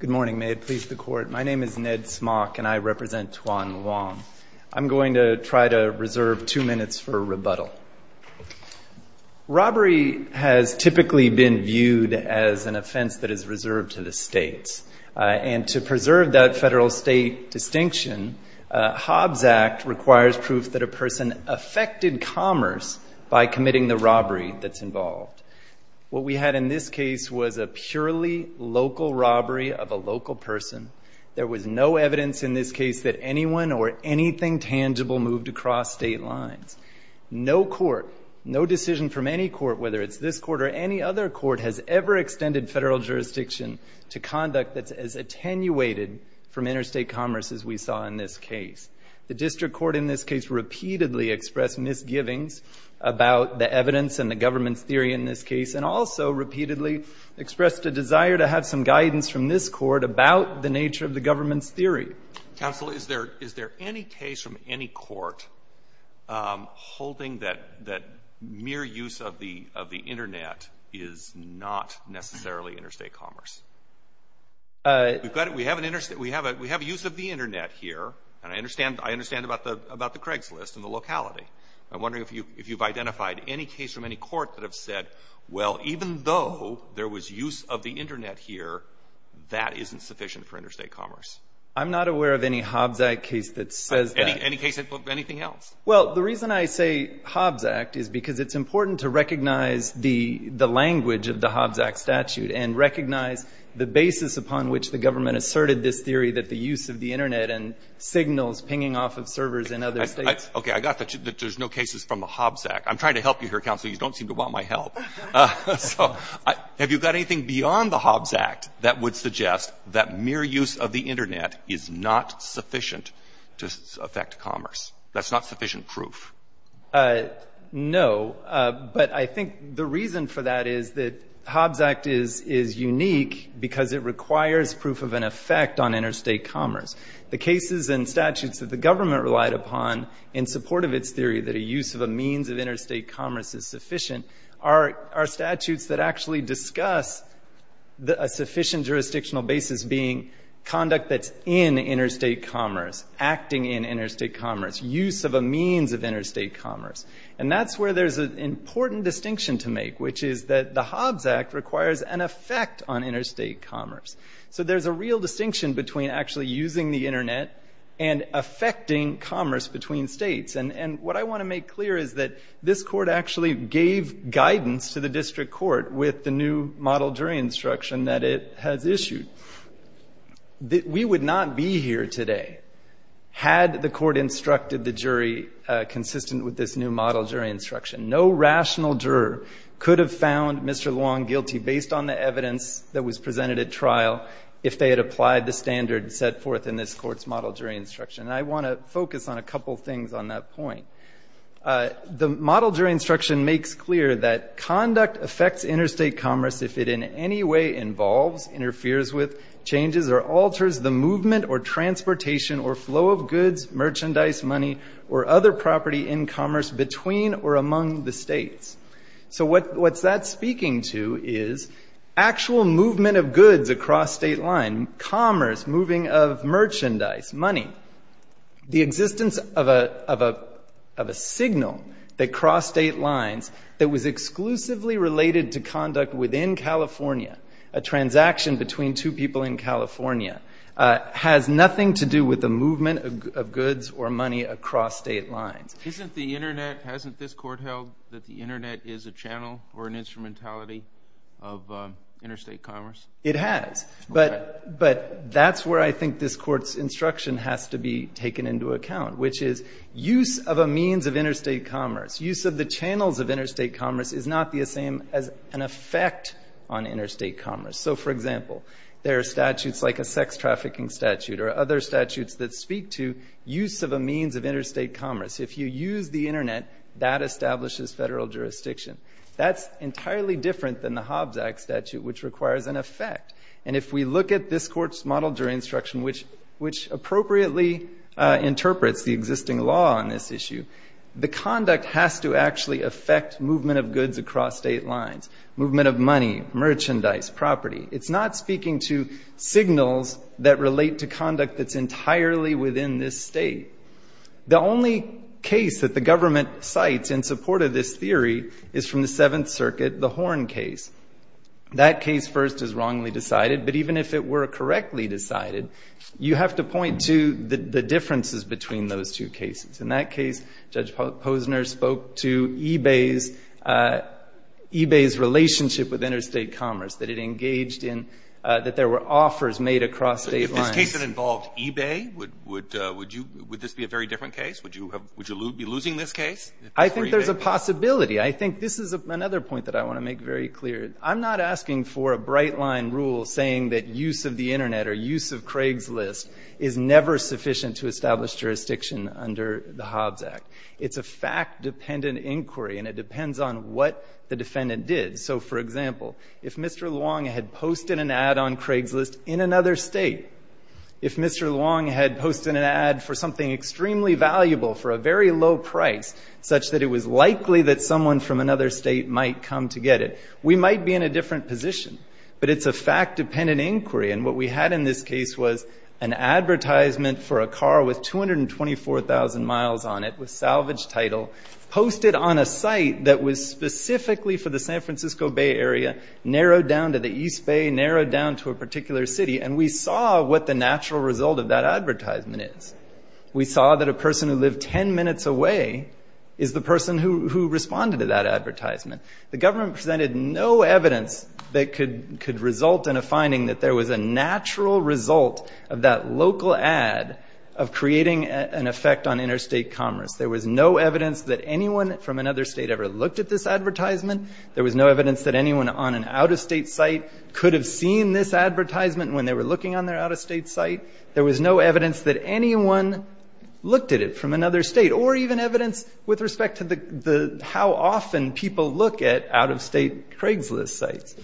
Good morning, may it please the court. My name is Ned Smock and I represent Tuan Luong. I'm going to try to reserve two minutes for a rebuttal. Robbery has typically been viewed as an offense that is reserved to the states, and to preserve that federal-state distinction, Hobbs Act requires proof that a person affected commerce by committing the robbery that's involved. What we had in this case was a purely local robbery of a local person. There was no evidence in this case that anyone or anything tangible moved across state lines. No court, no decision from any court, whether it's this court or any other court, has ever extended federal jurisdiction to conduct that's as attenuated from interstate commerce as we saw in this case. The district court in this case repeatedly expressed misgivings about the evidence and the government's theory in this case, and also repeatedly expressed a desire to have some guidance from this court about the nature of the government's theory. Counsel, is there any case from any court holding that mere use of the Internet is not necessarily interstate commerce? We have a use of the Internet here, and I understand about the Craigslist and the locality. I'm wondering if you've identified any case from any court that have said, well, even though there was use of the Internet here, that isn't sufficient for interstate commerce. I'm not aware of any Hobbs Act case that says that. Any case, anything else? Well, the reason I say Hobbs Act is because it's important to recognize the language of the Hobbs Act statute and recognize the basis upon which the government asserted this theory that the use of the Internet and signals pinging off of servers in other states. Okay, I got that there's no cases from the Hobbs Act. I'm trying to help you here, Counsel. You don't seem to want my help. So have you got anything beyond the Hobbs Act that would suggest that mere use of the Internet is not sufficient to affect commerce? That's not sufficient proof. No, but I think the reason for that is that Hobbs Act is unique because it requires proof of an effect on interstate commerce. The cases and statutes that the government relied upon in support of its theory that a use of a means of interstate commerce is sufficient are statutes that actually discuss a sufficient jurisdictional basis being conduct that's in interstate commerce, acting in interstate commerce, use of a means of interstate commerce. And that's where there's an important distinction to make, which is that the Hobbs Act requires an effect on interstate commerce. So there's a real distinction between actually using the Internet and affecting commerce between states. And what I want to make clear is that this court actually gave guidance to the district court with the new model jury instruction that it has issued. We would not be here today had the court instructed the jury consistent with this new model jury instruction. No rational juror could have found Mr. Luong guilty based on the evidence that was presented at trial if they had applied the standard set forth in this court's model jury instruction. And I want to focus on a couple things on that point. The model jury instruction makes clear that conduct affects interstate commerce if it in any way involves, interferes with, changes or alters the movement or transportation or flow of goods, merchandise, money, or other property in commerce between or among the states. So what's that speaking to is actual movement of goods across state line, commerce, moving of merchandise, money, the existence of a signal that crossed state lines that was exclusively related to conduct within California, a transaction between two people in California, has nothing to do with the movement of goods or money across state lines. Isn't the Internet, hasn't this court held that the Internet is a channel or an instrumentality of interstate commerce? It has. Okay. But that's where I think this court's instruction has to be taken into account, which is use of a means of interstate commerce, use of the channels of interstate commerce is not the same as an effect on interstate commerce. So, for example, there are statutes like a sex trafficking statute or other statutes that speak to use of a means of interstate commerce. If you use the Internet, that establishes federal jurisdiction. That's entirely different than the Hobbs Act statute, which requires an effect. And if we look at this court's model jury instruction, which appropriately interprets the existing law on this issue, the conduct has to actually affect movement of goods across state lines, movement of money, merchandise, property. It's not speaking to signals that relate to conduct that's entirely within this state. The only case that the government cites in support of this theory is from the Seventh Circuit, the Horn case. That case first is wrongly decided, but even if it were correctly decided, you have to point to the differences between those two cases. In that case, Judge Posner spoke to eBay's relationship with interstate commerce, that it engaged in, that there were offers made across state lines. If this case had involved eBay, would this be a very different case? Would you be losing this case? I think there's a possibility. I think this is another point that I want to make very clear. I'm not asking for a bright line rule saying that use of the Internet or use of Craigslist is never sufficient to establish jurisdiction under the Hobbs Act. It's a fact-dependent inquiry, and it depends on what the defendant did. So, for example, if Mr. Luong had posted an ad on Craigslist in another state, if Mr. Luong had posted an ad for something extremely valuable for a very low price, such that it was likely that someone from another state might come to get it, we might be in a different position. But it's a fact-dependent inquiry. And what we had in this case was an advertisement for a car with 224,000 miles on it, with salvage title, posted on a site that was specifically for the San Francisco Bay Area, narrowed down to the East Bay, narrowed down to a particular city, and we saw what the natural result of that advertisement is. We saw that a person who lived 10 minutes away is the person who responded to that advertisement. The government presented no evidence that could result in a finding that there was a natural result of that local ad of creating an effect on interstate commerce. There was no evidence that anyone from another state ever looked at this advertisement. There was no evidence that anyone on an out-of-state site could have seen this advertisement when they were looking on their out-of-state site. There was no evidence that anyone looked at it from another state, or even evidence with respect to how often people look at out-of-state Craigslist sites.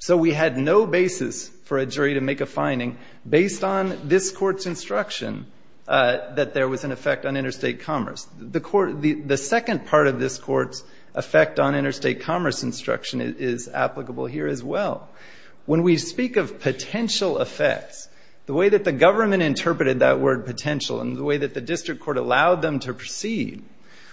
So we had no basis for a jury to make a finding based on this Court's instruction that there was an effect on interstate commerce. The second part of this Court's effect on interstate commerce instruction is applicable here as well. When we speak of potential effects, the way that the government interpreted that word potential and the way that the district court allowed them to proceed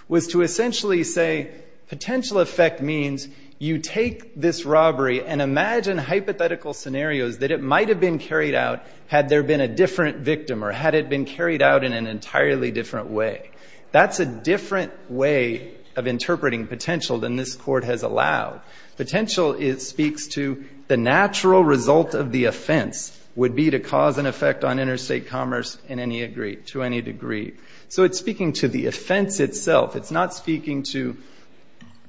was to essentially say potential effect means you take this robbery and imagine hypothetical scenarios that it might have been carried out had there been a different victim or had it been carried out in an entirely different way. That's a different way of interpreting potential than this Court has allowed. Potential speaks to the natural result of the offense would be to cause an effect on interstate commerce to any degree. So it's speaking to the offense itself. It's not speaking to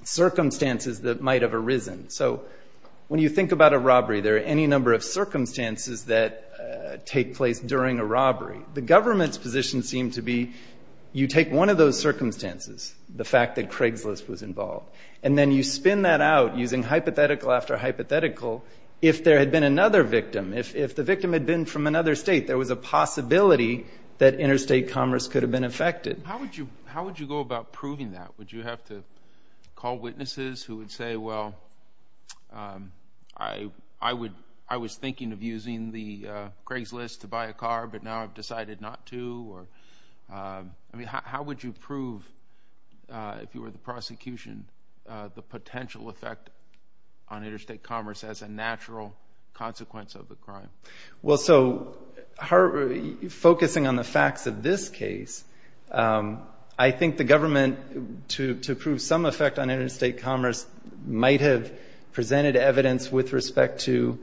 circumstances that might have arisen. So when you think about a robbery, there are any number of circumstances that take place during a robbery. The government's position seemed to be you take one of those circumstances, the fact that Craigslist was involved, and then you spin that out using hypothetical after hypothetical if there had been another victim. If the victim had been from another state, there was a possibility that interstate commerce could have been affected. How would you go about proving that? Would you have to call witnesses who would say, well, I was thinking of using the Craigslist to buy a car, but now I've decided not to? I mean, how would you prove, if you were the prosecution, the potential effect on interstate commerce as a natural consequence of the crime? Well, so focusing on the facts of this case, I think the government, to prove some effect on interstate commerce, might have presented evidence with respect to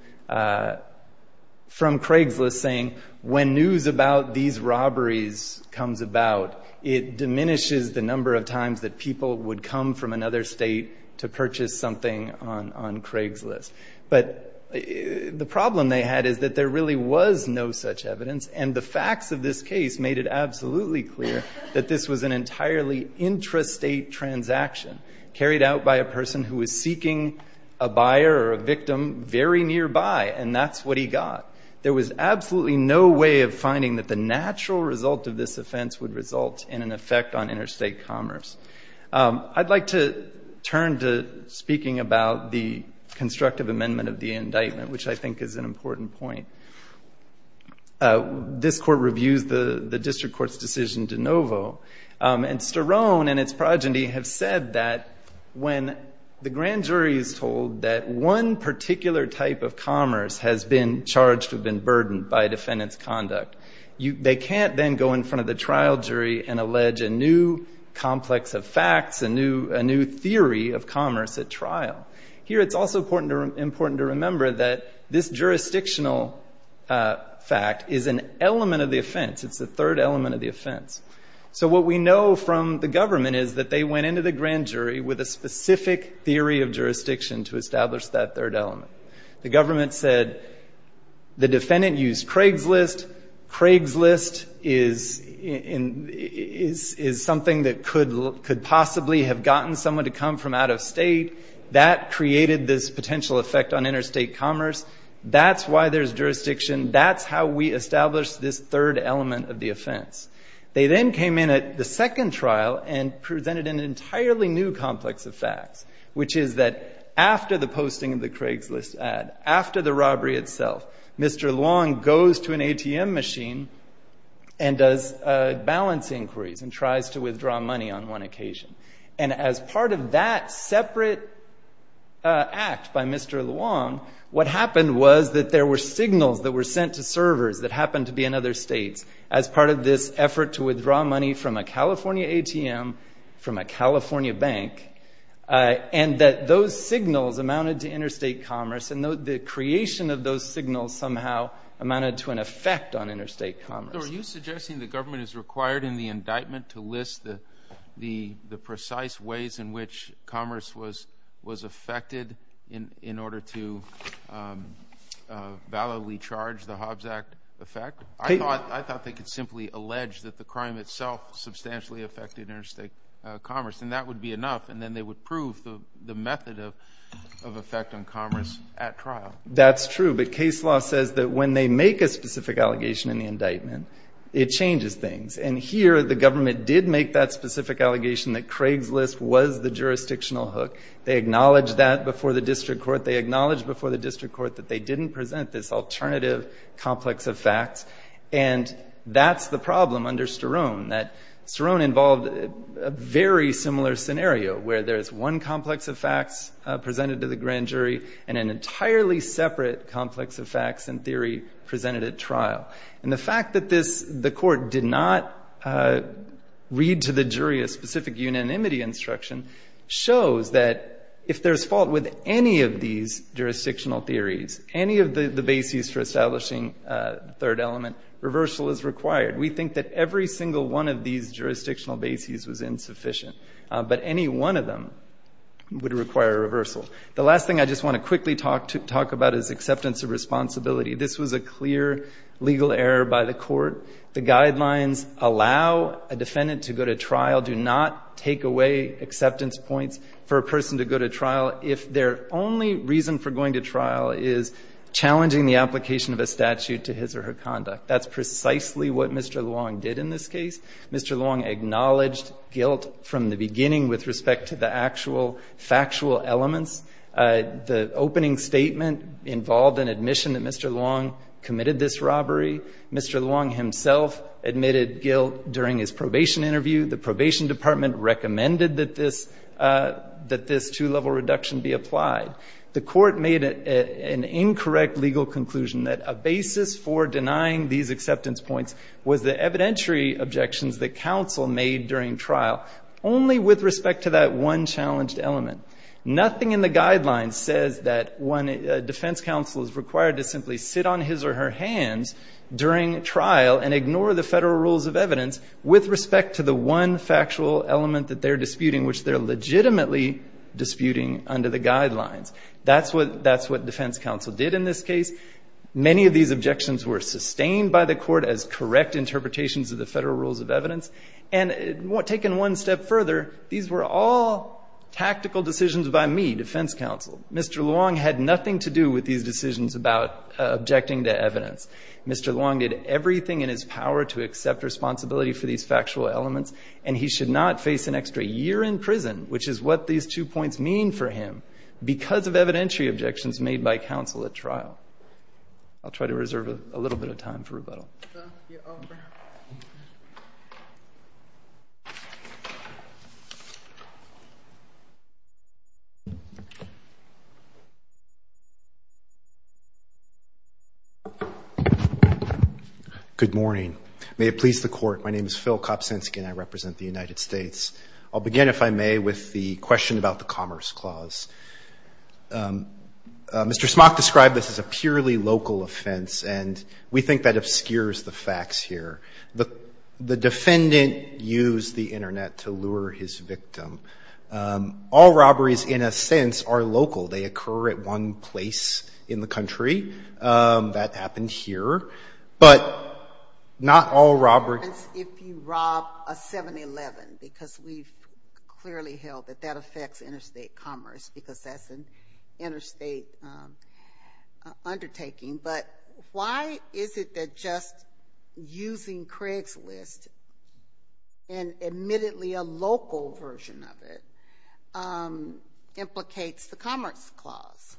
from Craigslist saying when news about these robberies comes about, it diminishes the number of times that people would come from another state to purchase something on Craigslist. But the problem they had is that there really was no such evidence, and the facts of this case made it absolutely clear that this was an entirely intrastate transaction carried out by a person who was seeking a buyer or a victim very nearby, and that's what he got. There was absolutely no way of finding that the natural result of this offense would result in an effect on interstate commerce. I'd like to turn to speaking about the constructive amendment of the indictment, which I think is an important point. This court reviews the district court's decision de novo, and Sterone and its progeny have said that when the grand jury is told that one particular type of commerce has been charged or been burdened by defendant's conduct, they can't then go in front of the trial jury and allege a new complex of facts, a new theory of commerce at trial. Here it's also important to remember that this jurisdictional fact is an element of the offense. It's the third element of the offense. So what we know from the government is that they went into the grand jury with a specific theory of jurisdiction to establish that third element. The government said the defendant used Craigslist. Craigslist is something that could possibly have gotten someone to come from out of state. That created this potential effect on interstate commerce. That's why there's jurisdiction. That's how we established this third element of the offense. They then came in at the second trial and presented an entirely new complex of facts, which is that after the posting of the Craigslist ad, after the robbery itself, Mr. Luong goes to an ATM machine and does balance inquiries and tries to withdraw money on one occasion. And as part of that separate act by Mr. Luong, what happened was that there were signals that were sent to servers that happened to be in other states. As part of this effort to withdraw money from a California ATM, from a California bank, and that those signals amounted to interstate commerce, and the creation of those signals somehow amounted to an effect on interstate commerce. So are you suggesting the government is required in the indictment to list the precise ways in which commerce was affected in order to validly charge the Hobbs Act effect? I thought they could simply allege that the crime itself substantially affected interstate commerce, and that would be enough, and then they would prove the method of effect on commerce at trial. That's true. But case law says that when they make a specific allegation in the indictment, it changes things. And here the government did make that specific allegation that Craigslist was the jurisdictional hook. They acknowledged that before the district court. They acknowledged before the district court that they didn't present this alternative complex of facts, and that's the problem under Sterone, that Sterone involved a very similar scenario, where there is one complex of facts presented to the grand jury and an entirely separate complex of facts and theory presented at trial. And the fact that the court did not read to the jury a specific unanimity instruction shows that if there's fault with any of these jurisdictional theories, any of the bases for establishing the third element, reversal is required. We think that every single one of these jurisdictional bases was insufficient, but any one of them would require reversal. The last thing I just want to quickly talk about is acceptance of responsibility. This was a clear legal error by the court. The guidelines allow a defendant to go to trial, do not take away acceptance points for a person to go to trial if their only reason for going to trial is challenging the application of a statute to his or her conduct. That's precisely what Mr. Luong did in this case. Mr. Luong acknowledged guilt from the beginning with respect to the actual factual elements. The opening statement involved an admission that Mr. Luong committed this robbery. Mr. Luong himself admitted guilt during his probation interview. The probation department recommended that this two-level reduction be applied. The court made an incorrect legal conclusion that a basis for denying these acceptance points was the evidentiary objections that counsel made during trial, only with respect to that one challenged element. Nothing in the guidelines says that when a defense counsel is required to simply sit on his or her hands during trial and ignore the federal rules of evidence with respect to the one factual element that they're disputing, which they're legitimately disputing under the guidelines. That's what defense counsel did in this case. Many of these objections were sustained by the court as correct interpretations of the federal rules of evidence. And taken one step further, these were all tactical decisions by me, defense counsel. Mr. Luong had nothing to do with these decisions about objecting to evidence. Mr. Luong did everything in his power to accept responsibility for these factual elements, and he should not face an extra year in prison, which is what these two points mean for him, because of evidentiary objections made by counsel at trial. I'll try to reserve a little bit of time for rebuttal. Good morning. May it please the Court, my name is Phil Kopczynski and I represent the United States. I'll begin, if I may, with the question about the Commerce Clause. Mr. Smock described this as a purely local offense, and we think that obscures the facts here. The defendant used the Internet to lure his victim. All robberies, in a sense, are local. They occur at one place in the country. That happened here. But not all robberies... ...if you rob a 7-Eleven, because we've clearly held that that affects interstate commerce, because that's an interstate undertaking. But why is it that just using Craigslist, and admittedly a local version of it, implicates the Commerce Clause?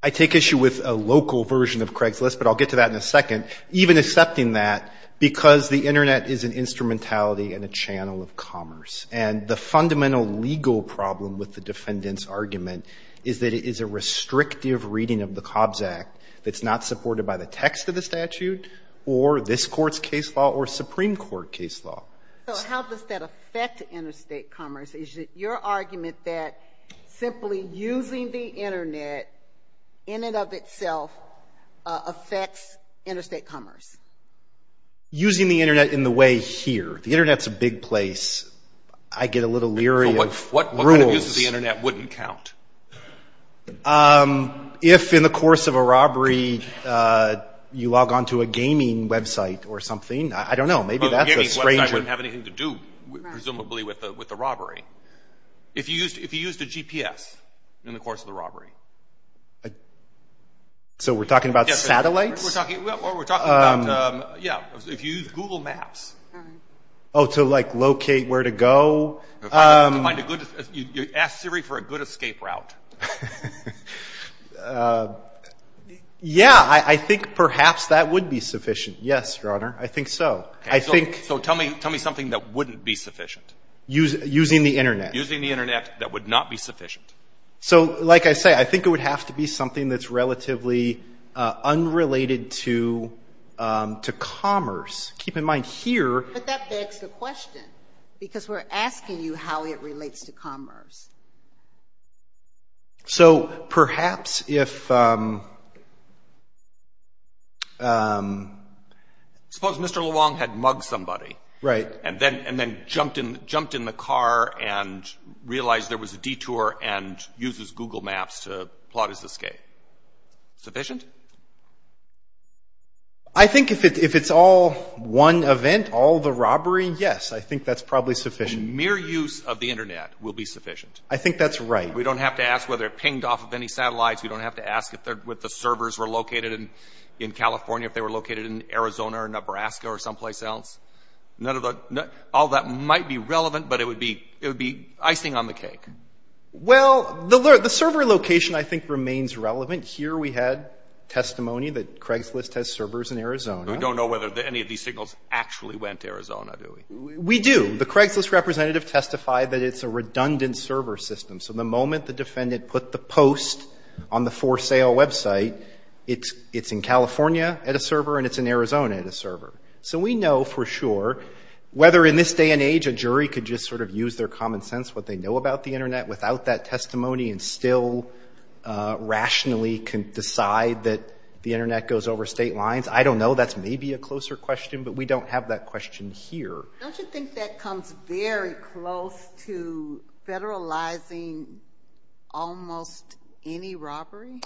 I take issue with a local version of Craigslist, but I'll get to that in a second. Even accepting that because the Internet is an instrumentality and a channel of commerce. And the fundamental legal problem with the defendant's argument is that it is a restrictive reading of the COBS Act that's not supported by the text of the statute or this Court's case law or Supreme Court case law. So how does that affect interstate commerce? Is it your argument that simply using the Internet in and of itself affects interstate commerce? Using the Internet in the way here. The Internet's a big place. I get a little leery of rules. So what kind of use of the Internet wouldn't count? If in the course of a robbery you log on to a gaming website or something, I don't know. A gaming website wouldn't have anything to do, presumably, with the robbery. If you used a GPS in the course of the robbery. So we're talking about satellites? We're talking about, yeah, if you use Google Maps. Oh, to, like, locate where to go? Ask Siri for a good escape route. Yeah, I think perhaps that would be sufficient. Yes, Your Honor. I think so. So tell me something that wouldn't be sufficient. Using the Internet. Using the Internet that would not be sufficient. So, like I say, I think it would have to be something that's relatively unrelated to commerce. Keep in mind here. But that begs the question, because we're asking you how it relates to commerce. So perhaps if... Suppose Mr. Luong had mugged somebody. Right. And then jumped in the car and realized there was a detour and uses Google Maps to plot his escape. Sufficient? I think if it's all one event, all the robbery, yes, I think that's probably sufficient. Mere use of the Internet will be sufficient. I think that's right. We don't have to ask whether it pinged off of any satellites. We don't have to ask if the servers were located in California, if they were located in Arizona or Nebraska or someplace else. All that might be relevant, but it would be icing on the cake. Well, the server location, I think, remains relevant. Here we had testimony that Craigslist has servers in Arizona. We don't know whether any of these signals actually went to Arizona, do we? We do. The Craigslist representative testified that it's a redundant server system. So the moment the defendant put the post on the for-sale website, it's in California at a server and it's in Arizona at a server. So we know for sure whether in this day and age a jury could just sort of use their common sense, what they know about the Internet, without that testimony and still rationally decide that the Internet goes over state lines. I don't know. That's maybe a closer question, but we don't have that question here. Don't you think that comes very close to federalizing almost any robbery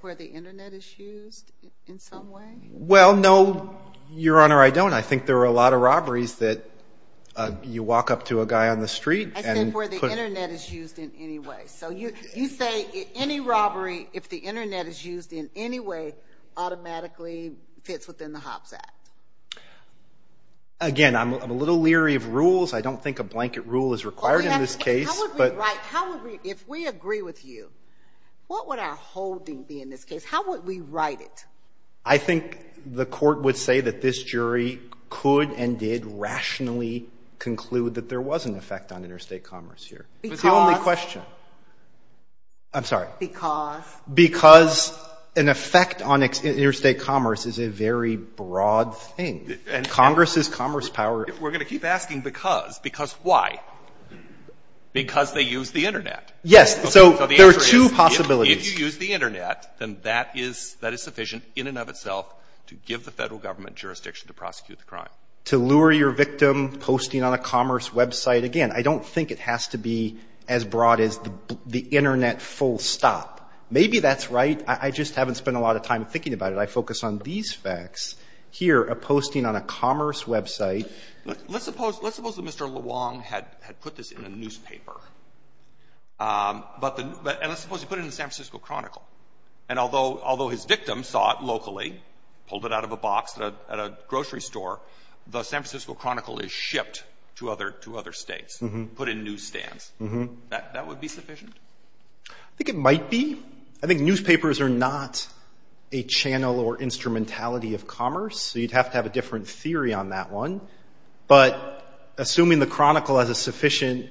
where the Internet is used in some way? Well, no, Your Honor, I don't. I think there are a lot of robberies that you walk up to a guy on the street and put – I said where the Internet is used in any way. So you say any robbery, if the Internet is used in any way, automatically fits within the HOPs Act. Again, I'm a little leery of rules. I don't think a blanket rule is required in this case. How would we write – if we agree with you, what would our holding be in this case? How would we write it? I think the court would say that this jury could and did rationally conclude that there was an effect on interstate commerce here. Because? That's the only question. I'm sorry. Because? Because an effect on interstate commerce is a very broad thing. And Congress's commerce power – We're going to keep asking because. Because why? Because they use the Internet. Yes. So the answer is – So there are two possibilities. If you use the Internet, then that is sufficient in and of itself to give the federal government jurisdiction to prosecute the crime. To lure your victim, posting on a commerce website. Again, I don't think it has to be as broad as the Internet full stop. Maybe that's right. I just haven't spent a lot of time thinking about it. I focus on these facts here, a posting on a commerce website. Let's suppose that Mr. Luong had put this in a newspaper. And let's suppose he put it in the San Francisco Chronicle. And although his victim saw it locally, pulled it out of a box at a grocery store, the San Francisco Chronicle is shipped to other states, put in newsstands. That would be sufficient? I think it might be. I think newspapers are not a channel or instrumentality of commerce. So you'd have to have a different theory on that one. But assuming the Chronicle has a sufficient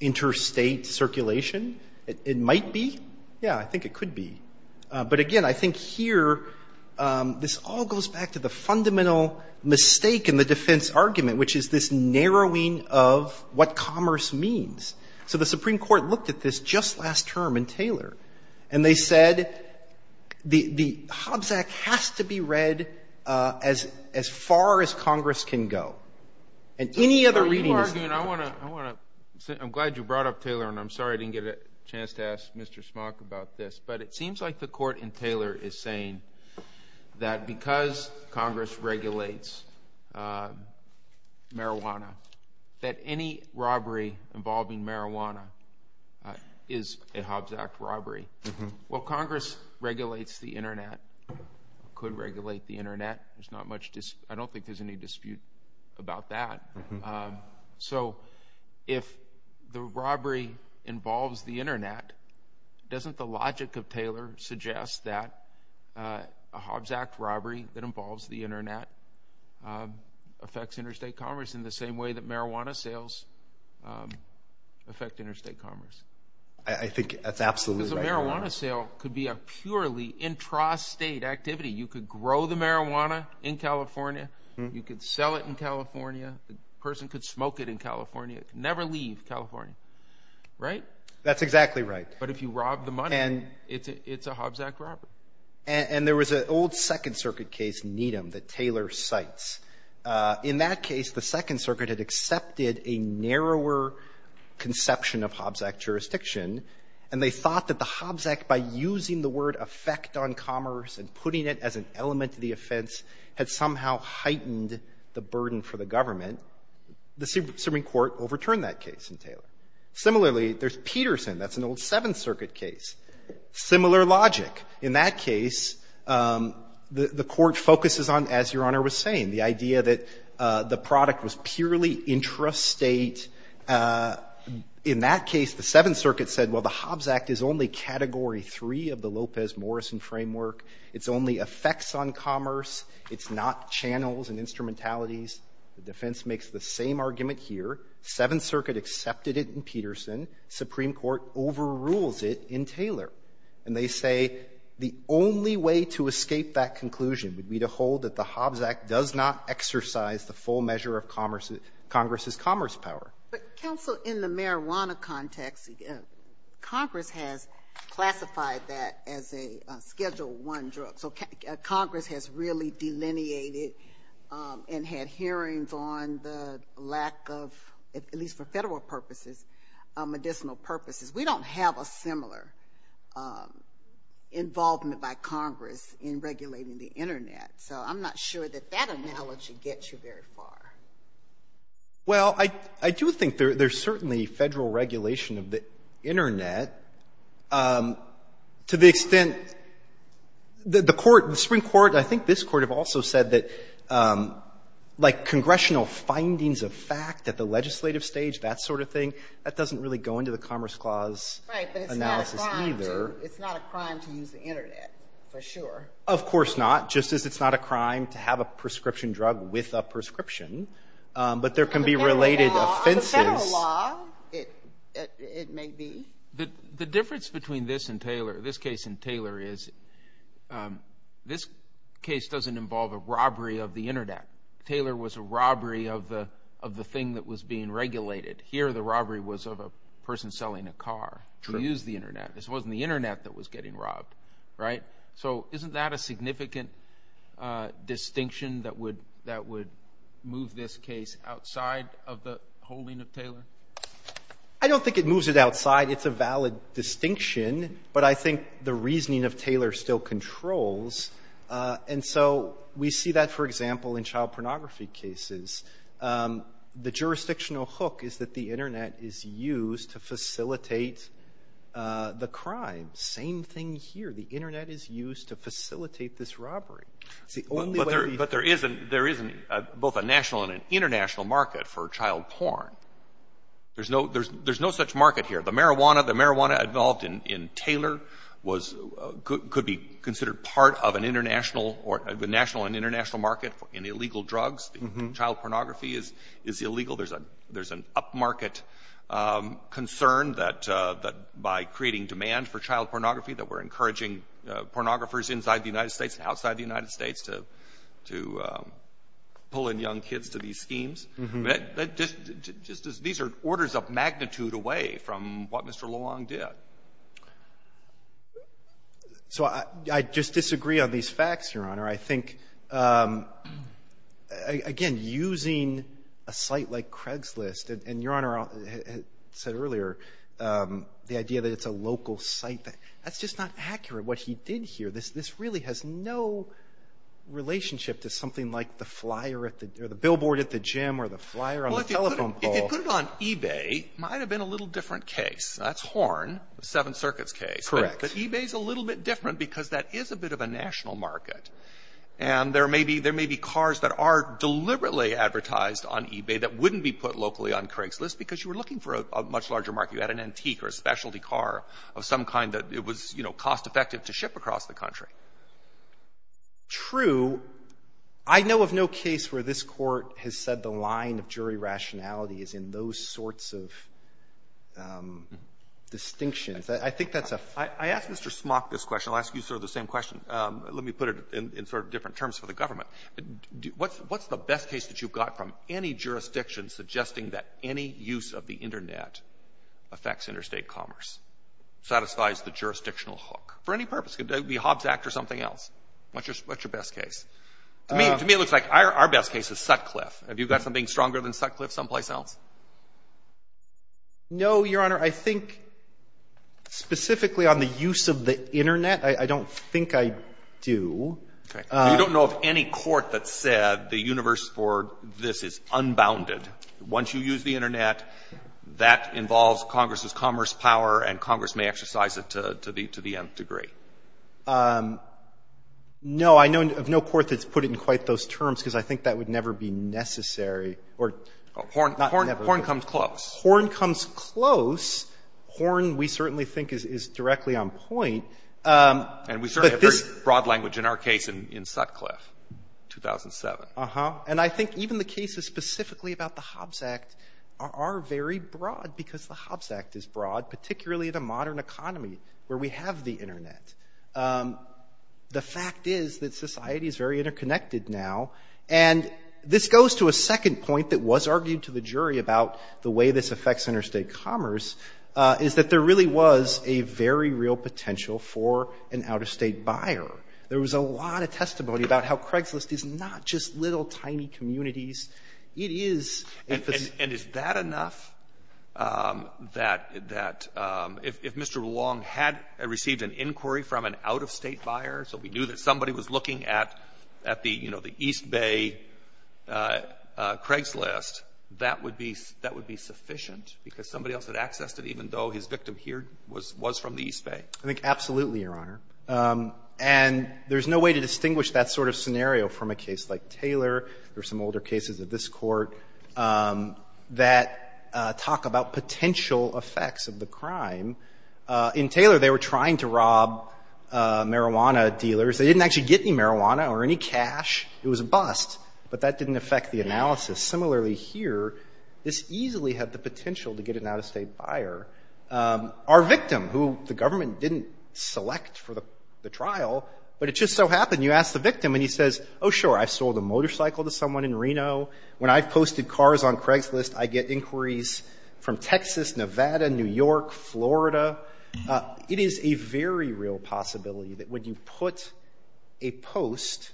interstate circulation, it might be. Yeah, I think it could be. But, again, I think here this all goes back to the fundamental mistake in the defense argument, which is this narrowing of what commerce means. So the Supreme Court looked at this just last term in Taylor. And they said the Hobbs Act has to be read as far as Congress can go. And any other reading is not. I'm glad you brought up Taylor. And I'm sorry I didn't get a chance to ask Mr. Smock about this. But it seems like the court in Taylor is saying that because Congress regulates marijuana, that any robbery involving marijuana is a Hobbs Act robbery. Well, Congress regulates the Internet, could regulate the Internet. I don't think there's any dispute about that. So if the robbery involves the Internet, doesn't the logic of Taylor suggest that a Hobbs Act robbery that involves the Internet affects interstate commerce in the same way that marijuana sales affect interstate commerce? I think that's absolutely right. Because a marijuana sale could be a purely intrastate activity. You could grow the marijuana in California. You could sell it in California. A person could smoke it in California. Never leave California. Right? That's exactly right. But if you rob the money, it's a Hobbs Act robbery. And there was an old Second Circuit case, Needham, that Taylor cites. In that case, the Second Circuit had accepted a narrower conception of Hobbs Act jurisdiction. And they thought that the Hobbs Act, by using the word affect on commerce and putting it as an element of the offense, had somehow heightened the burden for the government. The Supreme Court overturned that case in Taylor. Similarly, there's Peterson. That's an old Seventh Circuit case. Similar logic. In that case, the Court focuses on, as Your Honor was saying, the idea that the product was purely intrastate. And in that case, the Seventh Circuit said, well, the Hobbs Act is only Category 3 of the Lopez-Morrison framework. It's only affects on commerce. It's not channels and instrumentalities. The defense makes the same argument here. Seventh Circuit accepted it in Peterson. Supreme Court overrules it in Taylor. And they say the only way to escape that conclusion would be to hold that the Hobbs Act does not exercise the full measure of Congress's commerce power. But counsel, in the marijuana context, Congress has classified that as a Schedule I drug. So Congress has really delineated and had hearings on the lack of, at least for federal purposes, medicinal purposes. We don't have a similar involvement by Congress in regulating the Internet. So I'm not sure that that analogy gets you very far. Well, I do think there's certainly federal regulation of the Internet. To the extent that the Court, the Supreme Court, I think this Court have also said that, like, congressional findings of fact at the legislative stage, that sort of thing, that doesn't really go into the Commerce Clause analysis either. Right. But it's not a crime to use the Internet, for sure. Of course not. Just as it's not a crime to have a prescription drug with a prescription. But there can be related offenses. As a federal law, it may be. The difference between this and Taylor, this case and Taylor, is this case doesn't involve a robbery of the Internet. Taylor was a robbery of the thing that was being regulated. Here, the robbery was of a person selling a car who used the Internet. This wasn't the Internet that was getting robbed. Right? So isn't that a significant distinction that would move this case outside of the holding of Taylor? I don't think it moves it outside. It's a valid distinction. But I think the reasoning of Taylor still controls. And so we see that, for example, in child pornography cases. The jurisdictional hook is that the Internet is used to facilitate the crime. Same thing here. The Internet is used to facilitate this robbery. But there isn't both a national and an international market for child porn. There's no such market here. The marijuana involved in Taylor could be considered part of the national and international market in illegal drugs. Child pornography is illegal. There's an upmarket concern that by creating demand for child pornography, that we're encouraging pornographers inside the United States and outside the United States to pull in young kids to these schemes. These are orders of magnitude away from what Mr. Luong did. I think, again, using a site like Craigslist, and Your Honor said earlier the idea that it's a local site, that's just not accurate. What he did here, this really has no relationship to something like the flyer or the billboard at the gym or the flyer on the telephone pole. Well, if you put it on eBay, it might have been a little different case. That's Horn, the Seventh Circuit's case. Correct. eBay's a little bit different because that is a bit of a national market. There may be cars that are deliberately advertised on eBay that wouldn't be put locally on Craigslist because you were looking for a much larger market. You had an antique or a specialty car of some kind that it was cost effective to ship across the country. True. I know of no case where this court has said the line of jury rationality is in those sorts of distinctions. I think that's a— I asked Mr. Smock this question. I'll ask you sort of the same question. Let me put it in sort of different terms for the government. What's the best case that you've got from any jurisdiction suggesting that any use of the Internet affects interstate commerce, satisfies the jurisdictional hook for any purpose? Could that be Hobbs Act or something else? What's your best case? To me, it looks like our best case is Sutcliffe. Have you got something stronger than Sutcliffe someplace else? No, Your Honor. I think specifically on the use of the Internet, I don't think I do. Okay. You don't know of any court that said the universe for this is unbounded. Once you use the Internet, that involves Congress's commerce power, and Congress may exercise it to the nth degree. No. I know of no court that's put it in quite those terms because I think that would never be necessary. Horn comes close. Horn comes close. Horn, we certainly think, is directly on point. And we certainly have very broad language in our case in Sutcliffe, 2007. And I think even the cases specifically about the Hobbs Act are very broad because the Hobbs Act is broad, particularly in a modern economy where we have the Internet. The fact is that society is very interconnected now. And this goes to a second point that was argued to the jury about the way this affects interstate commerce, is that there really was a very real potential for an out-of-state buyer. There was a lot of testimony about how Craigslist is not just little, tiny communities. It is emphasis. And is that enough that if Mr. Long had received an inquiry from an out-of-state buyer, so we knew that somebody was looking at the, you know, the East Bay Craigslist, that would be sufficient because somebody else had accessed it even though his victim here was from the East Bay? I think absolutely, Your Honor. And there's no way to distinguish that sort of scenario from a case like Taylor or some older cases of this Court that talk about potential effects of the crime. In Taylor, they were trying to rob marijuana dealers. They didn't actually get any marijuana or any cash. It was a bust. But that didn't affect the analysis. Similarly, here, this easily had the potential to get an out-of-state buyer. Our victim, who the government didn't select for the trial, but it just so happened, you ask the victim and he says, oh, sure, I've sold a motorcycle to someone in Reno. When I've posted cars on Craigslist, I get inquiries from Texas, Nevada, New York, Florida. It is a very real possibility that when you put a post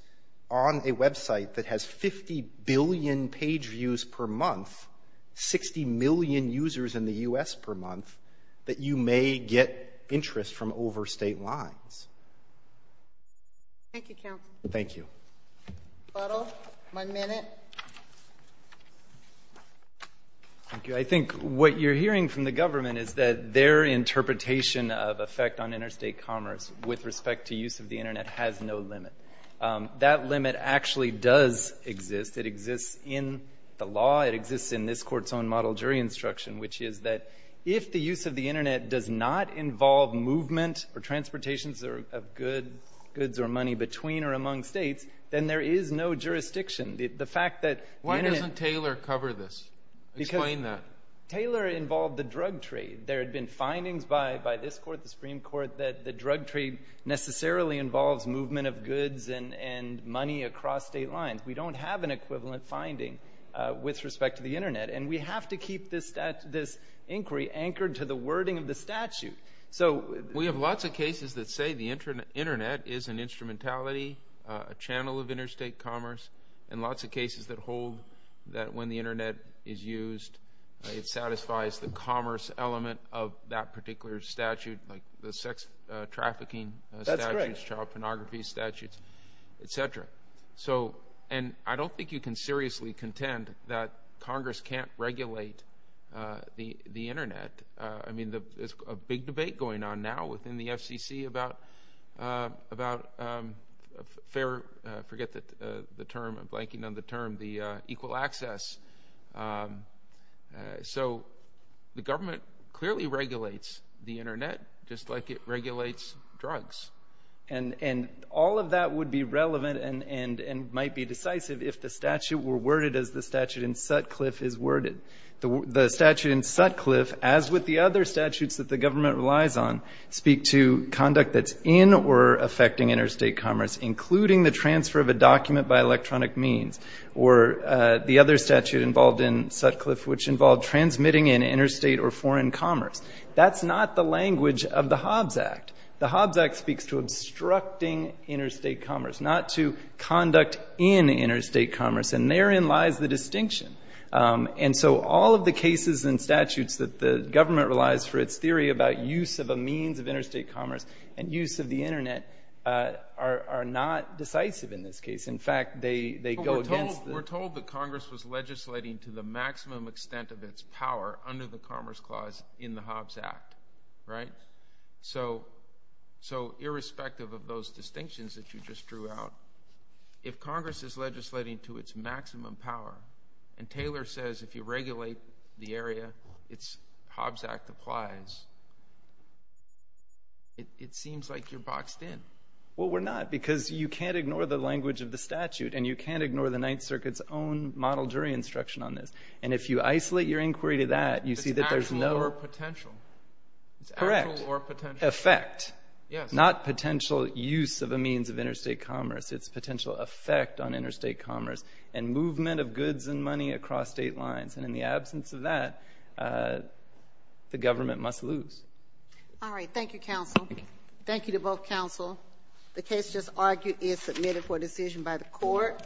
on a website that has 50 billion page views per month, 60 million users in the U.S. per month, that you may get interest from overstate lines. Thank you, counsel. Thank you. Butler, one minute. Thank you. I think what you're hearing from the government is that their interpretation of effect on interstate commerce with respect to use of the Internet has no limit. That limit actually does exist. It exists in the law. It exists in this Court's own model jury instruction, which is that if the use of the Internet does not involve movement or transportation of goods or money between or among states, then there is no jurisdiction. Why doesn't Taylor cover this? Explain that. Taylor involved the drug trade. There had been findings by this Court, the Supreme Court, that the drug trade necessarily involves movement of goods and money across state lines. We don't have an equivalent finding with respect to the Internet, and we have to keep this inquiry anchored to the wording of the statute. So we have lots of cases that say the Internet is an instrumentality, a channel of interstate commerce, and lots of cases that hold that when the Internet is used, it satisfies the commerce element of that particular statute, like the sex trafficking statutes, child pornography statutes, et cetera. And I don't think you can seriously contend that Congress can't regulate the Internet. I mean, there's a big debate going on now within the FCC about fair, forget the term, I'm blanking on the term, the equal access. So the government clearly regulates the Internet just like it regulates drugs. And all of that would be relevant and might be decisive if the statute were worded as the statute in Sutcliffe is worded. The statute in Sutcliffe, as with the other statutes that the government relies on, speak to conduct that's in or affecting interstate commerce, including the transfer of a document by electronic means, or the other statute involved in Sutcliffe, which involved transmitting in interstate or foreign commerce. That's not the language of the Hobbs Act. The Hobbs Act speaks to obstructing interstate commerce, not to conduct in interstate commerce. And therein lies the distinction. And so all of the cases and statutes that the government relies for its theory about use of a means of interstate commerce and use of the Internet are not decisive in this case. In fact, they go against the- We're told that Congress was legislating to the maximum extent of its power under the Commerce Clause in the Hobbs Act, right? So irrespective of those distinctions that you just drew out, if Congress is legislating to its maximum power, and Taylor says if you regulate the area, its Hobbs Act applies, it seems like you're boxed in. Well, we're not, because you can't ignore the language of the statute, and you can't ignore the Ninth Circuit's own model jury instruction on this. And if you isolate your inquiry to that, you see that there's no- It's actual or potential. Correct. Effect. Yes. Not potential use of a means of interstate commerce. It's potential effect on interstate commerce and movement of goods and money across state lines. And in the absence of that, the government must lose. All right. Thank you, counsel. Thank you to both counsel. The case just argued is submitted for decision by the court.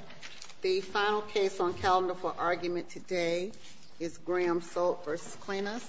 The final case on calendar for argument today is Graham-Solt v. Klenas.